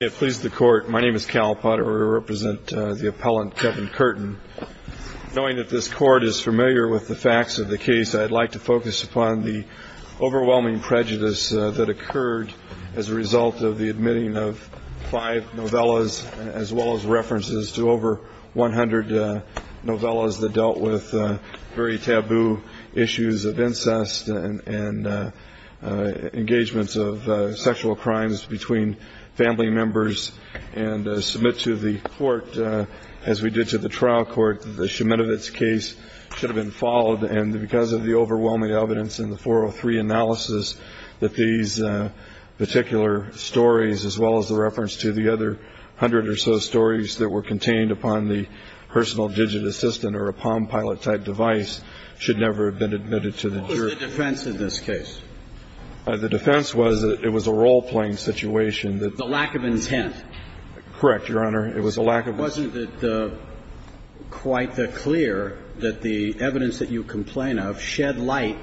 It pleases the court. My name is Cal Potter. I represent the appellant Kevin Curtin. Knowing that this court is familiar with the facts of the case, I'd like to focus upon the overwhelming prejudice that occurred as a result of the admitting of five novellas, as well as references to over 100 novellas that dealt with very taboo issues of incest and engagements of sexual crimes between family members and submit to the court, as we did to the trial court, that the Shemitovitz case should have been followed. And because of the overwhelming evidence in the 403 analysis, that these particular stories, as well as the reference to the other 100 or so stories that were contained upon the personal digit assistant or a palm pilot type device, should never have been admitted to the case. The defense was that it was a role-playing situation. The lack of intent. Correct, Your Honor. It was a lack of intent. Wasn't it quite clear that the evidence that you complain of shed light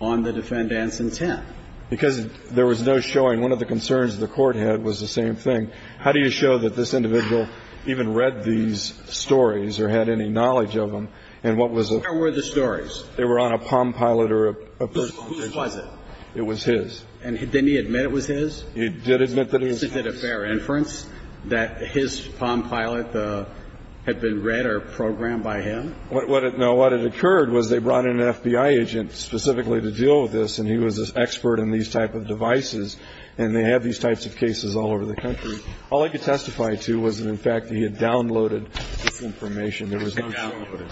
on the defendant's intent? Because there was no showing. One of the concerns the court had was the same thing. How do you show that this individual even read these stories or had any knowledge of them? And what was it? Where were the stories? They were on a palm pilot or a personal digit. Whose was it? It was his. And didn't he admit it was his? He did admit that it was his. Is it a fair inference that his palm pilot had been read or programmed by him? What it occurred was they brought in an FBI agent specifically to deal with this, and he was an expert in these type of devices, and they have these types of cases all over the country. All I could testify to was that, in fact, he had downloaded this information. There was no showing of it.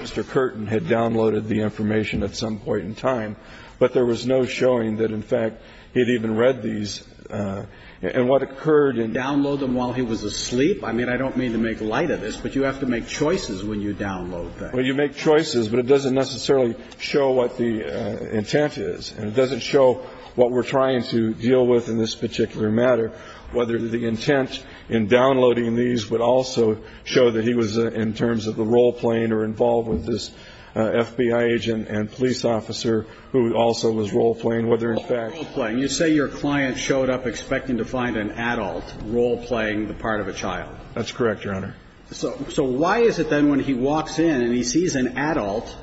Mr. Curtin had downloaded the information at some point in time, but there was no showing that, in fact, he had even read these. And what occurred in the case was that he had downloaded them while he was asleep. I mean, I don't mean to make light of this, but you have to make choices when you download things. Well, you make choices, but it doesn't necessarily show what the intent is. And it doesn't show what we're trying to deal with in this particular matter, whether the intent in downloading these would also show that he was, in terms of the role playing or involved with this FBI agent and police officer who also was role playing, whether, in fact you say your client showed up expecting to find an adult role playing the part of a child. That's correct, Your Honor. So why is it then when he walks in and he sees an adult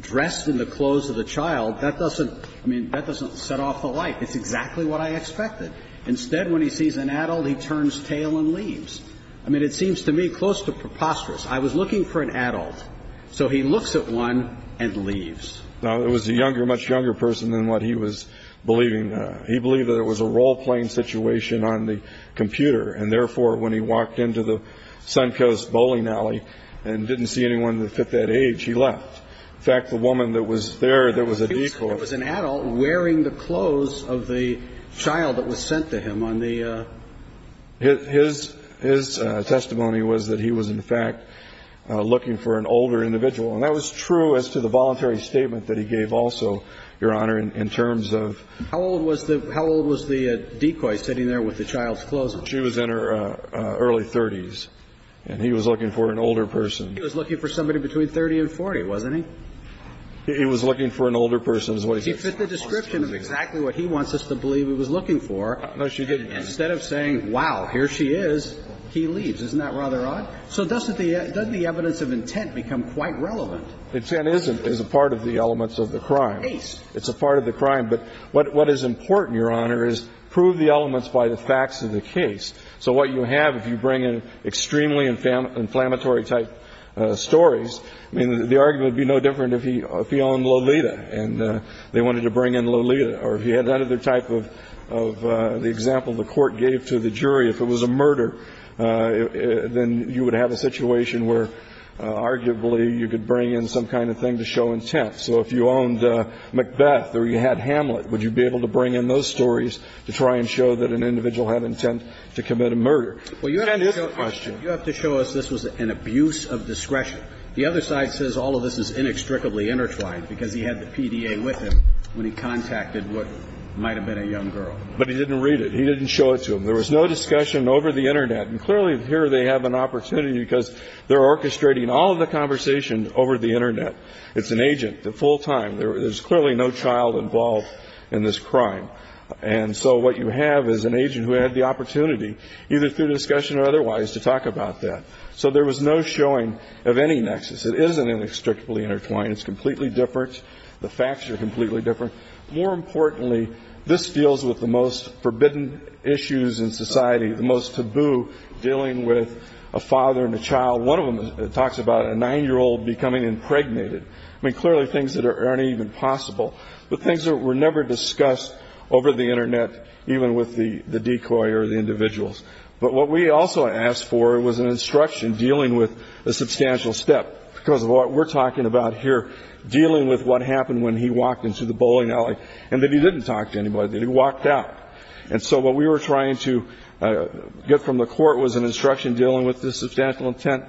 dressed in the clothes of the child, that doesn't, I mean, that doesn't set off the light. It's exactly what I expected. Instead, when he sees an adult, he turns tail and leaves. I mean, it seems to me close to preposterous. I was looking for an adult. So he looks at one and leaves. No, it was a younger, much younger person than what he was believing. He believed that it was a role playing situation on the computer. And therefore, when he walked into the Suncoast bowling alley and didn't see anyone that fit that age, he left. In fact, the woman that was there, there was a decoy. It was an adult wearing the clothes of the child that was sent to him on the. His testimony was that he was, in fact, looking for an older individual. And that was true as to the voluntary statement that he gave also, Your Honor, in terms of. How old was the decoy sitting there with the child's clothes on? She was in her early 30s. And he was looking for an older person. He was looking for somebody between 30 and 40, wasn't he? He was looking for an older person. He fit the description of exactly what he wants us to believe he was looking for. So instead of saying, wow, here she is, he leaves. Isn't that rather odd? So doesn't the evidence of intent become quite relevant? Intent is a part of the elements of the crime. Case. It's a part of the crime. But what is important, Your Honor, is prove the elements by the facts of the case. So what you have, if you bring in extremely inflammatory type stories, I mean, the argument would be no different if he owned Lolita and they were not involved in the murder. If it was a murder, then you would have a situation where, arguably, you could bring in some kind of thing to show intent. So if you owned Macbeth or you had Hamlet, would you be able to bring in those stories to try and show that an individual had intent to commit a murder? And his question. Well, you have to show us this was an abuse of discretion. The other side says all of this is inextricably intertwined because he had the PDA with him when he contacted what might have been a young girl. But he didn't read it. He didn't show it to him. There was no discussion over the Internet. And clearly here they have an opportunity because they're orchestrating all of the conversation over the Internet. It's an agent, the full time. There is clearly no child involved in this crime. And so what you have is an agent who had the opportunity, either through discussion or otherwise, to talk about that. So there was no showing of any nexus. It isn't inextricably intertwined. It's completely different. The facts are completely different. More importantly, this deals with the most forbidden issues in society, the most taboo dealing with a father and a child. One of them talks about a nine-year-old becoming impregnated. I mean, clearly things that aren't even possible, but things that were never discussed over the Internet, even with the decoy or the individuals. But what we also asked for was an instruction dealing with a substantial step because of what we're talking about here, dealing with what happened when he walked into the bowling alley and that he didn't talk to anybody, that he walked out. And so what we were trying to get from the court was an instruction dealing with the substantial intent,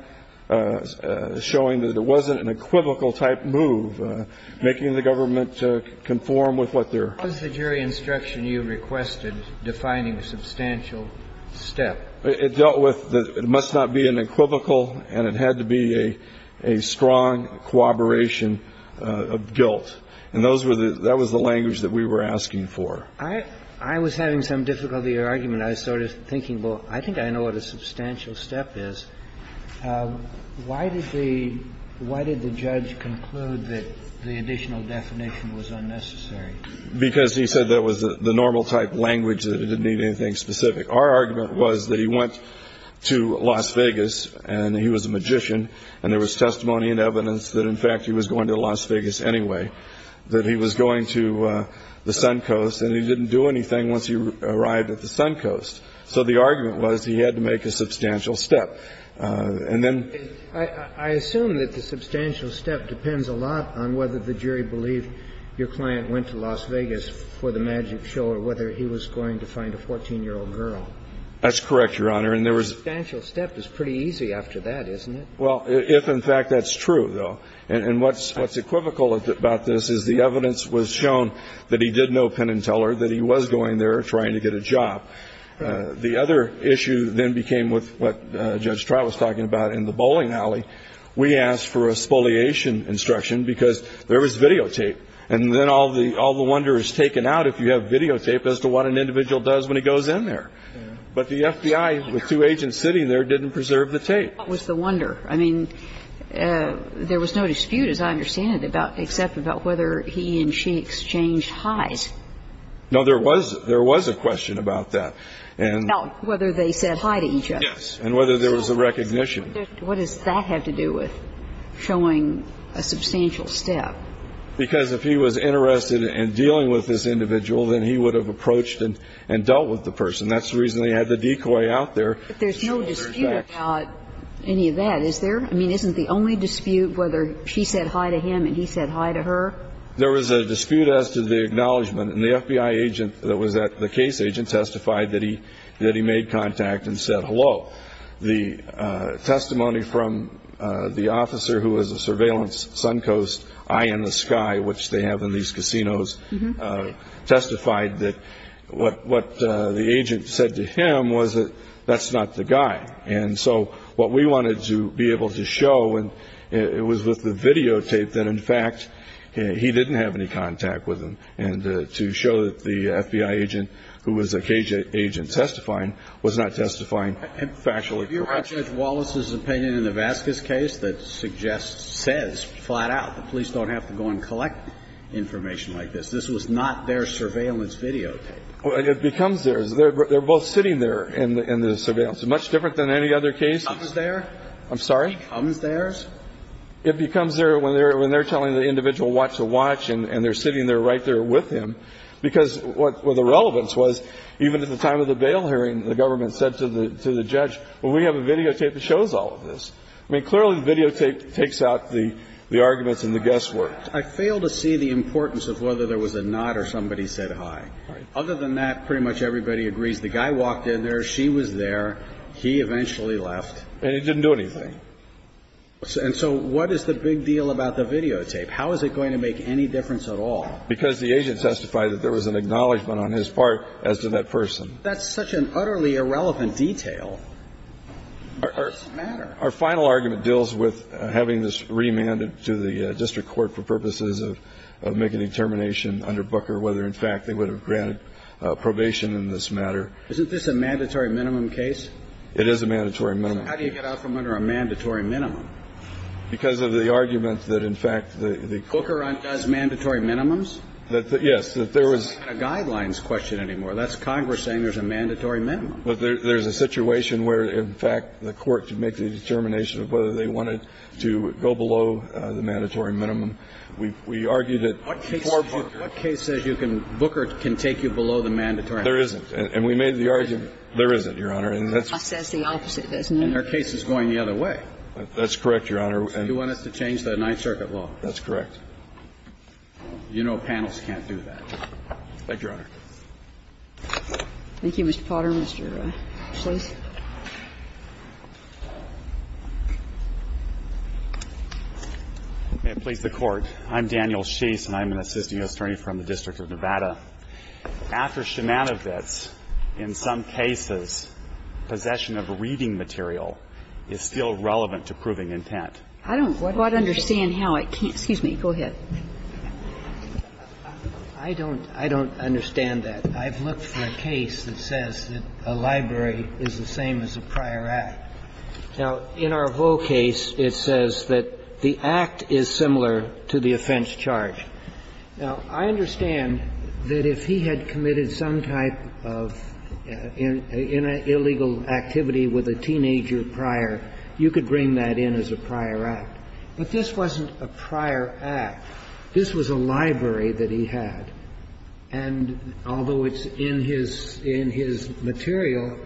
showing that it wasn't an equivocal type move, making the government conform with what they're. What was the jury instruction you requested defining a substantial step? It dealt with it must not be an equivocal and it had to be a strong corroboration of guilt. And those were the – that was the language that we were asking for. I was having some difficulty with your argument. I was sort of thinking, well, I think I know what a substantial step is. Why did the judge conclude that the additional definition was unnecessary? Because he said that was the normal type language, that it didn't need anything specific. Our argument was that he went to Las Vegas and he was a magician and there was testimony and evidence that, in fact, he was going to Las Vegas anyway, that he was going to the Suncoast and he didn't do anything once he arrived at the Suncoast. So the argument was he had to make a substantial step. And then – I assume that the substantial step depends a lot on whether the jury believed your client went to Las Vegas for the magic show or whether he was going to find a 14-year-old girl. That's correct, Your Honor. And there was – A substantial step is pretty easy after that, isn't it? Well, if, in fact, that's true, though. And what's equivocal about this is the evidence was shown that he did know Penn & Teller, that he was going there trying to get a job. The other issue then became with what Judge Trout was talking about in the bowling alley. We asked for a spoliation instruction because there was videotape. And then all the wonder is taken out if you have videotape as to what an individual does when he goes in there. But the FBI, with two agents sitting there, didn't preserve the tape. What was the wonder? I mean, there was no dispute, as I understand it, about – except about whether he and she exchanged hi's. No, there was – there was a question about that. About whether they said hi to each other. Yes. And whether there was a recognition. What does that have to do with showing a substantial step? Because if he was interested in dealing with this individual, then he would have approached and dealt with the person. That's the reason they had the decoy out there. But there's no dispute about any of that, is there? I mean, isn't the only dispute whether she said hi to him and he said hi to her? There was a dispute as to the acknowledgment. And the FBI agent that was at – the case agent testified that he made contact and said hello. The testimony from the officer who was a surveillance Suncoast eye in the sky, which they have in these casinos, testified that what the agent said to him was that that's not the guy. And so what we wanted to be able to show, and it was with the videotape, that in fact he didn't have any contact with him. And to show that the FBI agent, who was the case agent testifying, was not testifying factually. And if you read Judge Wallace's opinion in the Vasquez case, that suggests, says flat out the police don't have to go and collect information like this. This was not their surveillance videotape. It becomes theirs. They're both sitting there in the surveillance. Much different than any other case. It becomes theirs? I'm sorry? It becomes theirs? It becomes theirs when they're telling the individual what to watch and they're sitting there right there with him. Because what the relevance was, even at the time of the bail hearing, the government said to the judge, well, we have a videotape that shows all of this. I mean, clearly the videotape takes out the arguments and the guesswork. I fail to see the importance of whether there was a nod or somebody said hi. Other than that, pretty much everybody agrees. The guy walked in there. She was there. He eventually left. And he didn't do anything. And so what is the big deal about the videotape? How is it going to make any difference at all? Because the agent testified that there was an acknowledgement on his part as to that person. That's such an utterly irrelevant detail. It doesn't matter. Our final argument deals with having this remanded to the district court for purposes of making a determination under Booker whether, in fact, they would have granted probation in this matter. Isn't this a mandatory minimum case? It is a mandatory minimum. So how do you get out from under a mandatory minimum? Because of the argument that, in fact, the court- Booker does mandatory minimums? Yes. That there was- It's not a guidelines question anymore. That's Congress saying there's a mandatory minimum. But there's a situation where, in fact, the court could make the determination of whether they wanted to go below the mandatory minimum. We argued that for Booker- What case says you can – Booker can take you below the mandatory minimum? There isn't. And we made the argument- There isn't. There isn't, Your Honor. And that's- It says the opposite, doesn't it? And our case is going the other way. That's correct, Your Honor. You want us to change the Ninth Circuit law? That's correct. You know panels can't do that. Thank you, Your Honor. Thank you, Mr. Potter. Mr. Schlicht. May it please the Court. I'm Daniel Schlicht, and I'm an assisting attorney from the District of Nevada. After Shemana vets, in some cases, possession of reading material is still relevant to proving intent. I don't quite understand how it can't- Excuse me. Go ahead. I don't – I don't understand that. I've looked for a case that says that a library is the same as a prior act. Now, in our Vaux case, it says that the act is similar to the offense charge. Now, I understand that if he had committed some type of illegal activity with a teenager prior, you could bring that in as a prior act. But this wasn't a prior act. This was a library that he had. And although it's in his – in his material,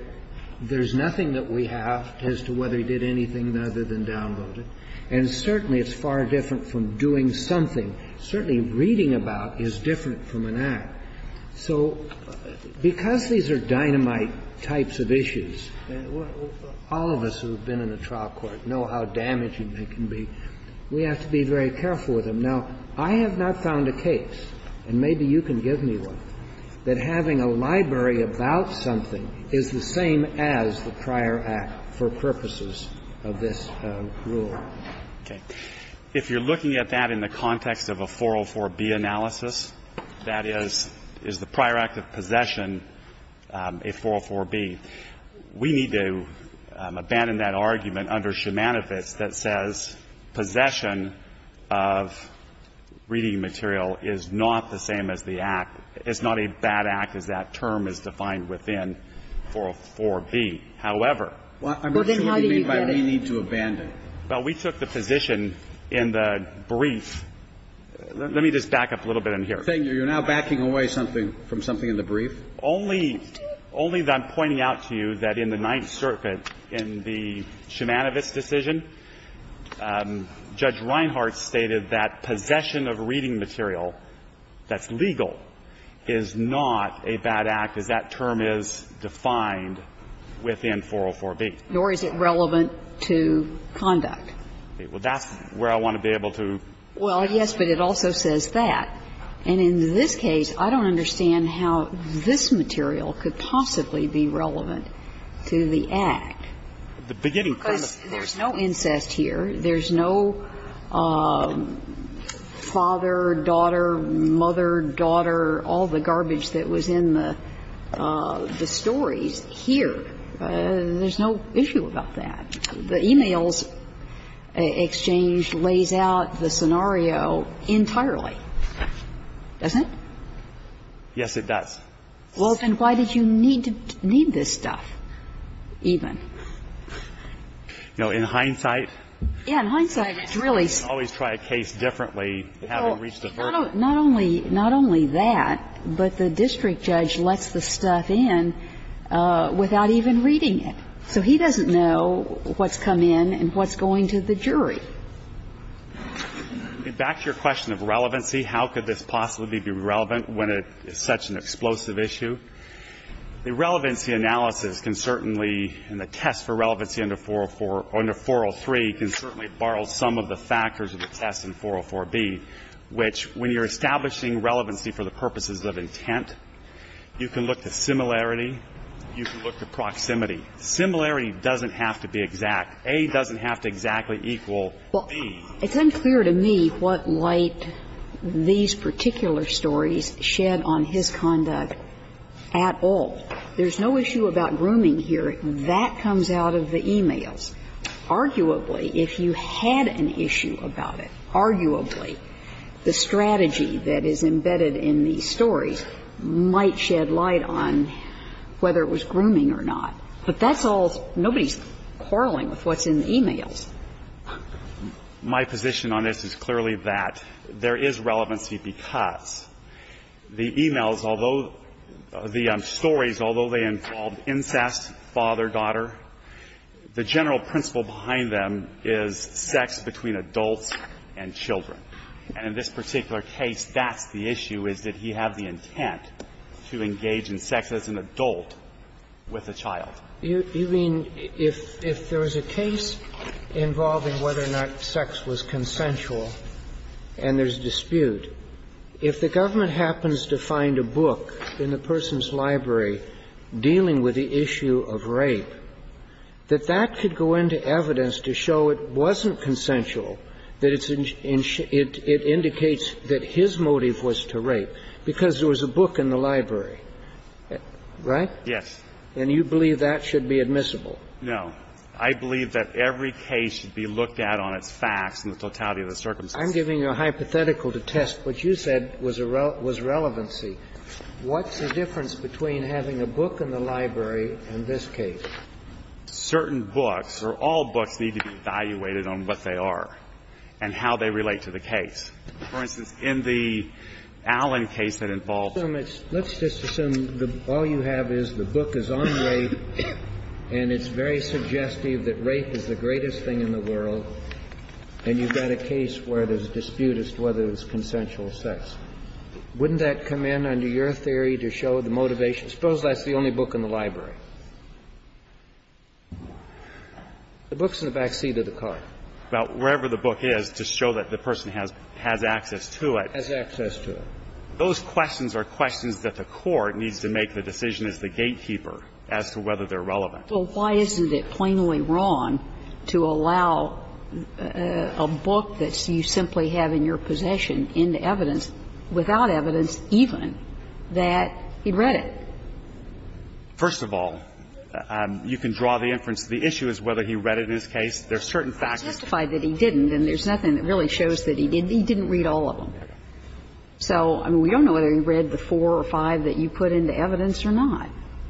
there's nothing that we have as to whether he did anything other than download it. And certainly, it's far different from doing something. Certainly, reading about is different from an act. So because these are dynamite types of issues, all of us who have been in a trial court know how damaging they can be. We have to be very careful with them. Now, I have not found a case, and maybe you can give me one, that having a library about something is the same as the prior act for purposes of this rule. Okay. If you're looking at that in the context of a 404B analysis, that is, is the prior act of possession a 404B, we need to abandon that argument under Shumanifis that says possession of reading material is not the same as the act. It's not a bad act, as that term is defined within 404B. However, I'm assuming you mean by we need to abandon. Well, we took the position in the brief. Let me just back up a little bit in here. You're now backing away something from something in the brief? Only that I'm pointing out to you that in the Ninth Circuit, in the Shumanifis decision, Judge Reinhart stated that possession of reading material that's legal is not a bad act, as that term is defined within 404B. Nor is it relevant to conduct. Well, that's where I want to be able to. Well, yes, but it also says that. And in this case, I don't understand how this material could possibly be relevant to the act. Because there's no incest here. There's no father, daughter, mother, daughter, all the garbage that was in the stories here. There's no issue about that. The e-mails exchange lays out the scenario entirely. Doesn't it? Yes, it does. Well, then why did you need this stuff even? You know, in hindsight, you can always try a case differently, having reached a verdict. Not only that, but the district judge lets the stuff in without even reading it. So he doesn't know what's come in and what's going to the jury. Back to your question of relevancy, how could this possibly be relevant when it's such an explosive issue? The relevancy analysis can certainly, and the test for relevancy under 403 can certainly borrow some of the factors of the test in 404B, which, when you're establishing relevancy for the purposes of intent, you can look to similarity, you can look to proximity. Similarity doesn't have to be exact. A doesn't have to exactly equal B. It's unclear to me what light these particular stories shed on his conduct at all. There's no issue about grooming here. That comes out of the e-mails. Arguably, if you had an issue about it, arguably, the strategy that is embedded in these stories might shed light on whether it was grooming or not. But that's all nobody's quarreling with what's in the e-mails. My position on this is clearly that there is relevancy because the e-mails, although the stories, although they involve incest, father-daughter, the general principle behind them is sex between adults and children. And in this particular case, that's the issue, is that he had the intent to engage in sex as an adult with a child. You mean if there was a case involving whether or not sex was consensual and there's dispute, if the government happens to find a book in the person's library dealing with the issue of rape, that that could go into evidence to show it wasn't consensual, that it indicates that his motive was to rape because there was a book in the library, right? Yes. And you believe that should be admissible? No. I believe that every case should be looked at on its facts and the totality of the circumstances. I'm giving you a hypothetical to test what you said was relevancy. What's the difference between having a book in the library in this case? Certain books or all books need to be evaluated on what they are and how they relate to the case. The book is on rape, and it's very suggestive that rape is the greatest thing in the world, and you've got a case where there's a dispute as to whether it was consensual sex. Wouldn't that come in under your theory to show the motivation? Suppose that's the only book in the library. The book's in the back seat of the car. Well, wherever the book is, to show that the person has access to it. Has access to it. Those questions are questions that the court needs to make the decision as the gatekeeper as to whether they're relevant. Well, why isn't it plainly wrong to allow a book that you simply have in your possession into evidence without evidence even that he read it? First of all, you can draw the inference. The issue is whether he read it in this case. There are certain facts. I testified that he didn't, and there's nothing that really shows that he did. He didn't read all of them. So, I mean, we don't know whether he read the four or five that you put into evidence or not.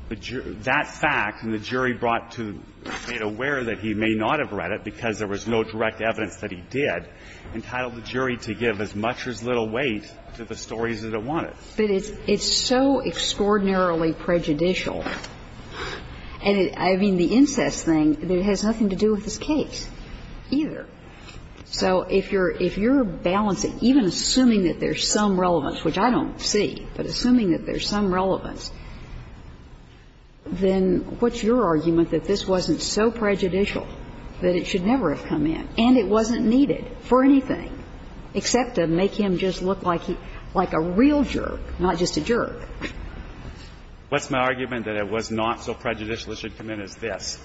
But that fact, and the jury brought to be aware that he may not have read it because there was no direct evidence that he did, entitled the jury to give as much or as little weight to the stories that it wanted. But it's so extraordinarily prejudicial. And I mean, the incest thing, it has nothing to do with this case either. So if you're balancing, even assuming that there's some relevance, which I don't see, but assuming that there's some relevance, then what's your argument that this wasn't so prejudicial that it should never have come in, and it wasn't needed for anything, except to make him just look like a real jerk, not just a jerk? What's my argument that it was not so prejudicial it should come in is this.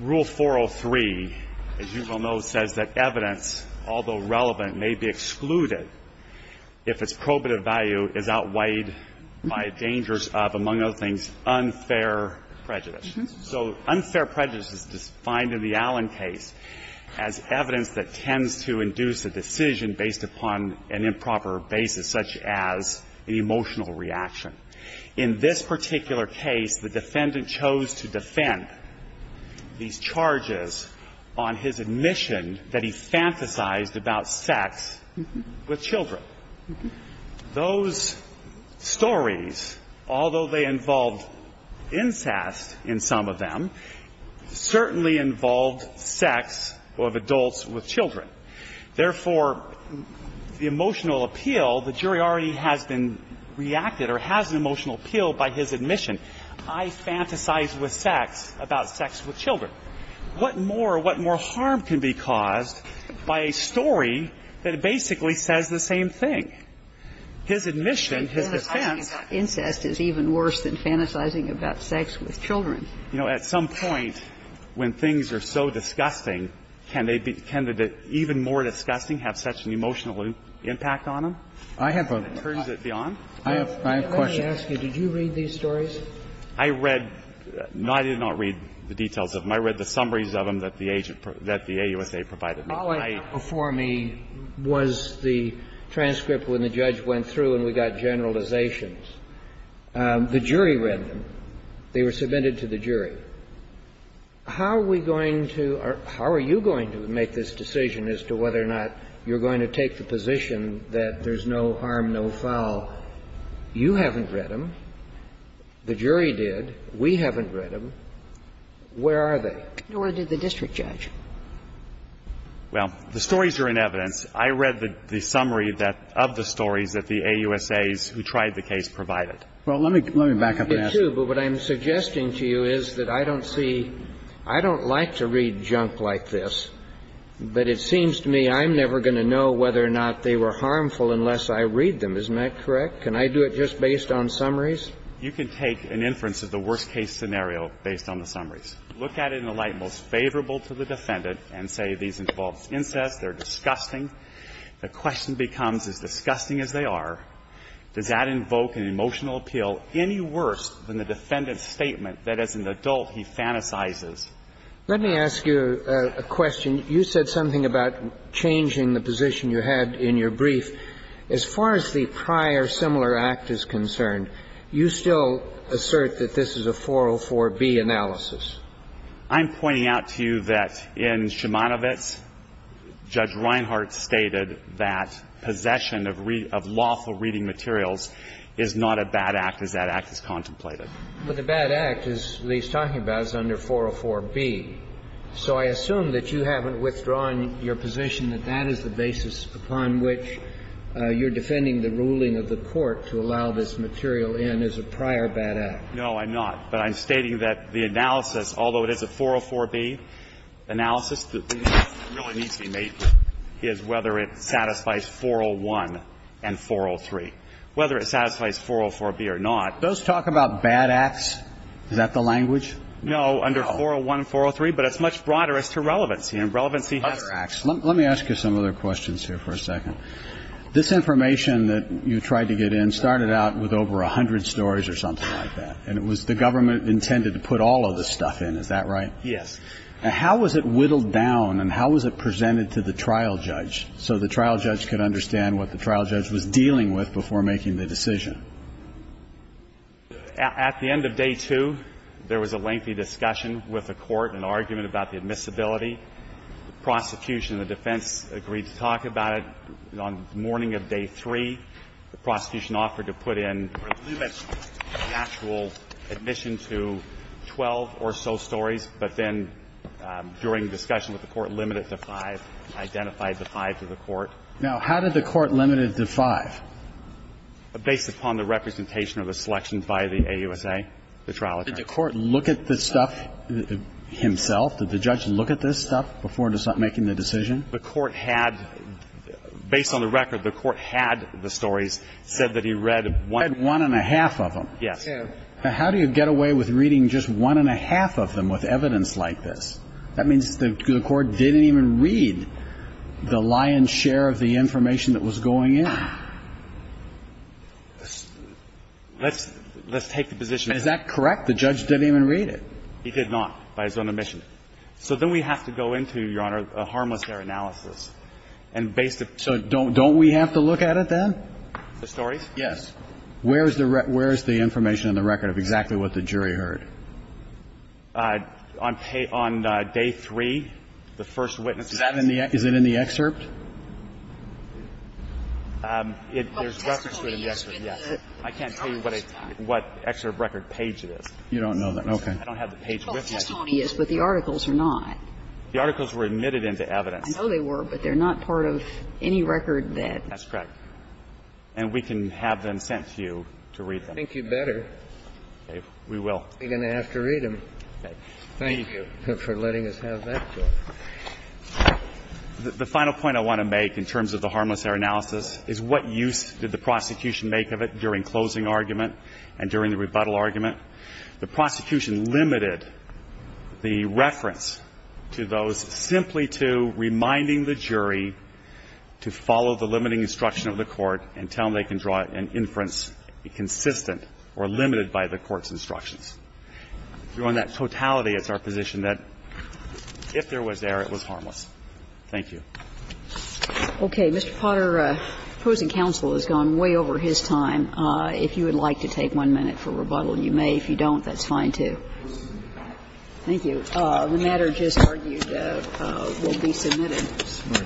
Rule 403, as you well know, says that evidence, although relevant, may be excluded if its probative value is outweighed by dangers of, among other things, unfair prejudice. So unfair prejudice is defined in the Allen case as evidence that tends to induce a decision based upon an improper basis, such as an emotional reaction. In this particular case, the defendant chose to defend these charges on his admission that he fantasized about sex with children. Those stories, although they involved incest in some of them, certainly involved sex of adults with children. Therefore, the emotional appeal, the jury already has been reacted or has been reacted to as an emotional appeal by his admission, I fantasized with sex about sex with children. What more, what more harm can be caused by a story that basically says the same thing? His admission, his defense of incest is even worse than fantasizing about sex with children. You know, at some point when things are so disgusting, can they be even more disgusting, have such an emotional impact on them? I have a question. Let me ask you, did you read these stories? I read them. No, I did not read the details of them. I read the summaries of them that the AUSA provided me. All I have before me was the transcript when the judge went through and we got generalizations. The jury read them. They were submitted to the jury. How are we going to or how are you going to make this decision as to whether or not you're going to take the position that there's no harm, no foul? You haven't read them. The jury did. We haven't read them. Where are they? Nor did the district judge. Well, the stories are in evidence. I read the summary that of the stories that the AUSAs who tried the case provided. Well, let me back up and ask you. I did, too, but what I'm suggesting to you is that I don't see – I don't like to read the summary. I'm just asking you to know whether or not they were harmful unless I read them. Isn't that correct? Can I do it just based on summaries? You can take an inference of the worst-case scenario based on the summaries. Look at it in a light most favorable to the defendant and say these involve incest, they're disgusting. The question becomes, as disgusting as they are, does that invoke an emotional appeal any worse than the defendant's statement that as an adult he fantasizes? Let me ask you a question. You said something about changing the position you had in your brief. As far as the prior similar act is concerned, you still assert that this is a 404B analysis. I'm pointing out to you that in Shimanovitz, Judge Reinhart stated that possession of lawful reading materials is not a bad act as that act is contemplated. But the bad act, as Lee's talking about, is under 404B. So I assume that you haven't withdrawn your position that that is the basis upon which you're defending the ruling of the Court to allow this material in as a prior bad act. No, I'm not. But I'm stating that the analysis, although it is a 404B analysis, the question really needs to be made is whether it satisfies 401 and 403, whether it satisfies 404B or not. Those talk about bad acts. Is that the language? No, under 401 and 403. But it's much broader as to relevancy. And relevancy has to be... Other acts. Let me ask you some other questions here for a second. This information that you tried to get in started out with over 100 stories or something like that. And it was the government intended to put all of this stuff in. Is that right? Yes. And how was it whittled down and how was it presented to the trial judge so the trial judge could understand what the trial judge was dealing with before making the decision? At the end of day two, there was a lengthy discussion with the court, an argument about the admissibility. The prosecution and the defense agreed to talk about it. On the morning of day three, the prosecution offered to put in or limit the actual admission to 12 or so stories. But then during the discussion with the court, limited to five, identified the five to the court. Now, how did the court limit it to five? Based upon the representation of the selection by the AUSA, the trial attorney. Did the court look at the stuff himself? Did the judge look at this stuff before making the decision? The court had, based on the record, the court had the stories, said that he read one... One and a half of them. Yes. And how do you get away with reading just one and a half of them with evidence like this? That means the court didn't even read the lion's share of the information that was going in. Let's take the position... Is that correct? The judge didn't even read it. He did not, by his own admission. So then we have to go into, Your Honor, a harmless error analysis. And based... So don't we have to look at it then? The stories? Yes. Where is the information in the record of exactly what the jury heard? On day three, the first witness... Is it in the excerpt? There's a reference to it in the excerpt, yes. I can't tell you what excerpt record page it is. You don't know that. Okay. I don't have the page with me. Well, testimony is, but the articles are not. The articles were admitted into evidence. I know they were, but they're not part of any record that... That's correct. And we can have them sent to you to read them. I think you better... Okay. We will. ...be going to have to read them. Thank you for letting us have that court. The final point I want to make in terms of the harmless error analysis is what use did the prosecution make of it during closing argument and during the rebuttal argument? The prosecution limited the reference to those simply to reminding the jury to follow the limiting instruction of the court until they can draw an inference consistent or limited by the court's instructions. We're on that totality as our position that if there was error, it was harmless. Thank you. Okay. Mr. Potter, opposing counsel has gone way over his time. If you would like to take one minute for rebuttal, you may. If you don't, that's fine, too. Thank you. The matter just argued will be submitted.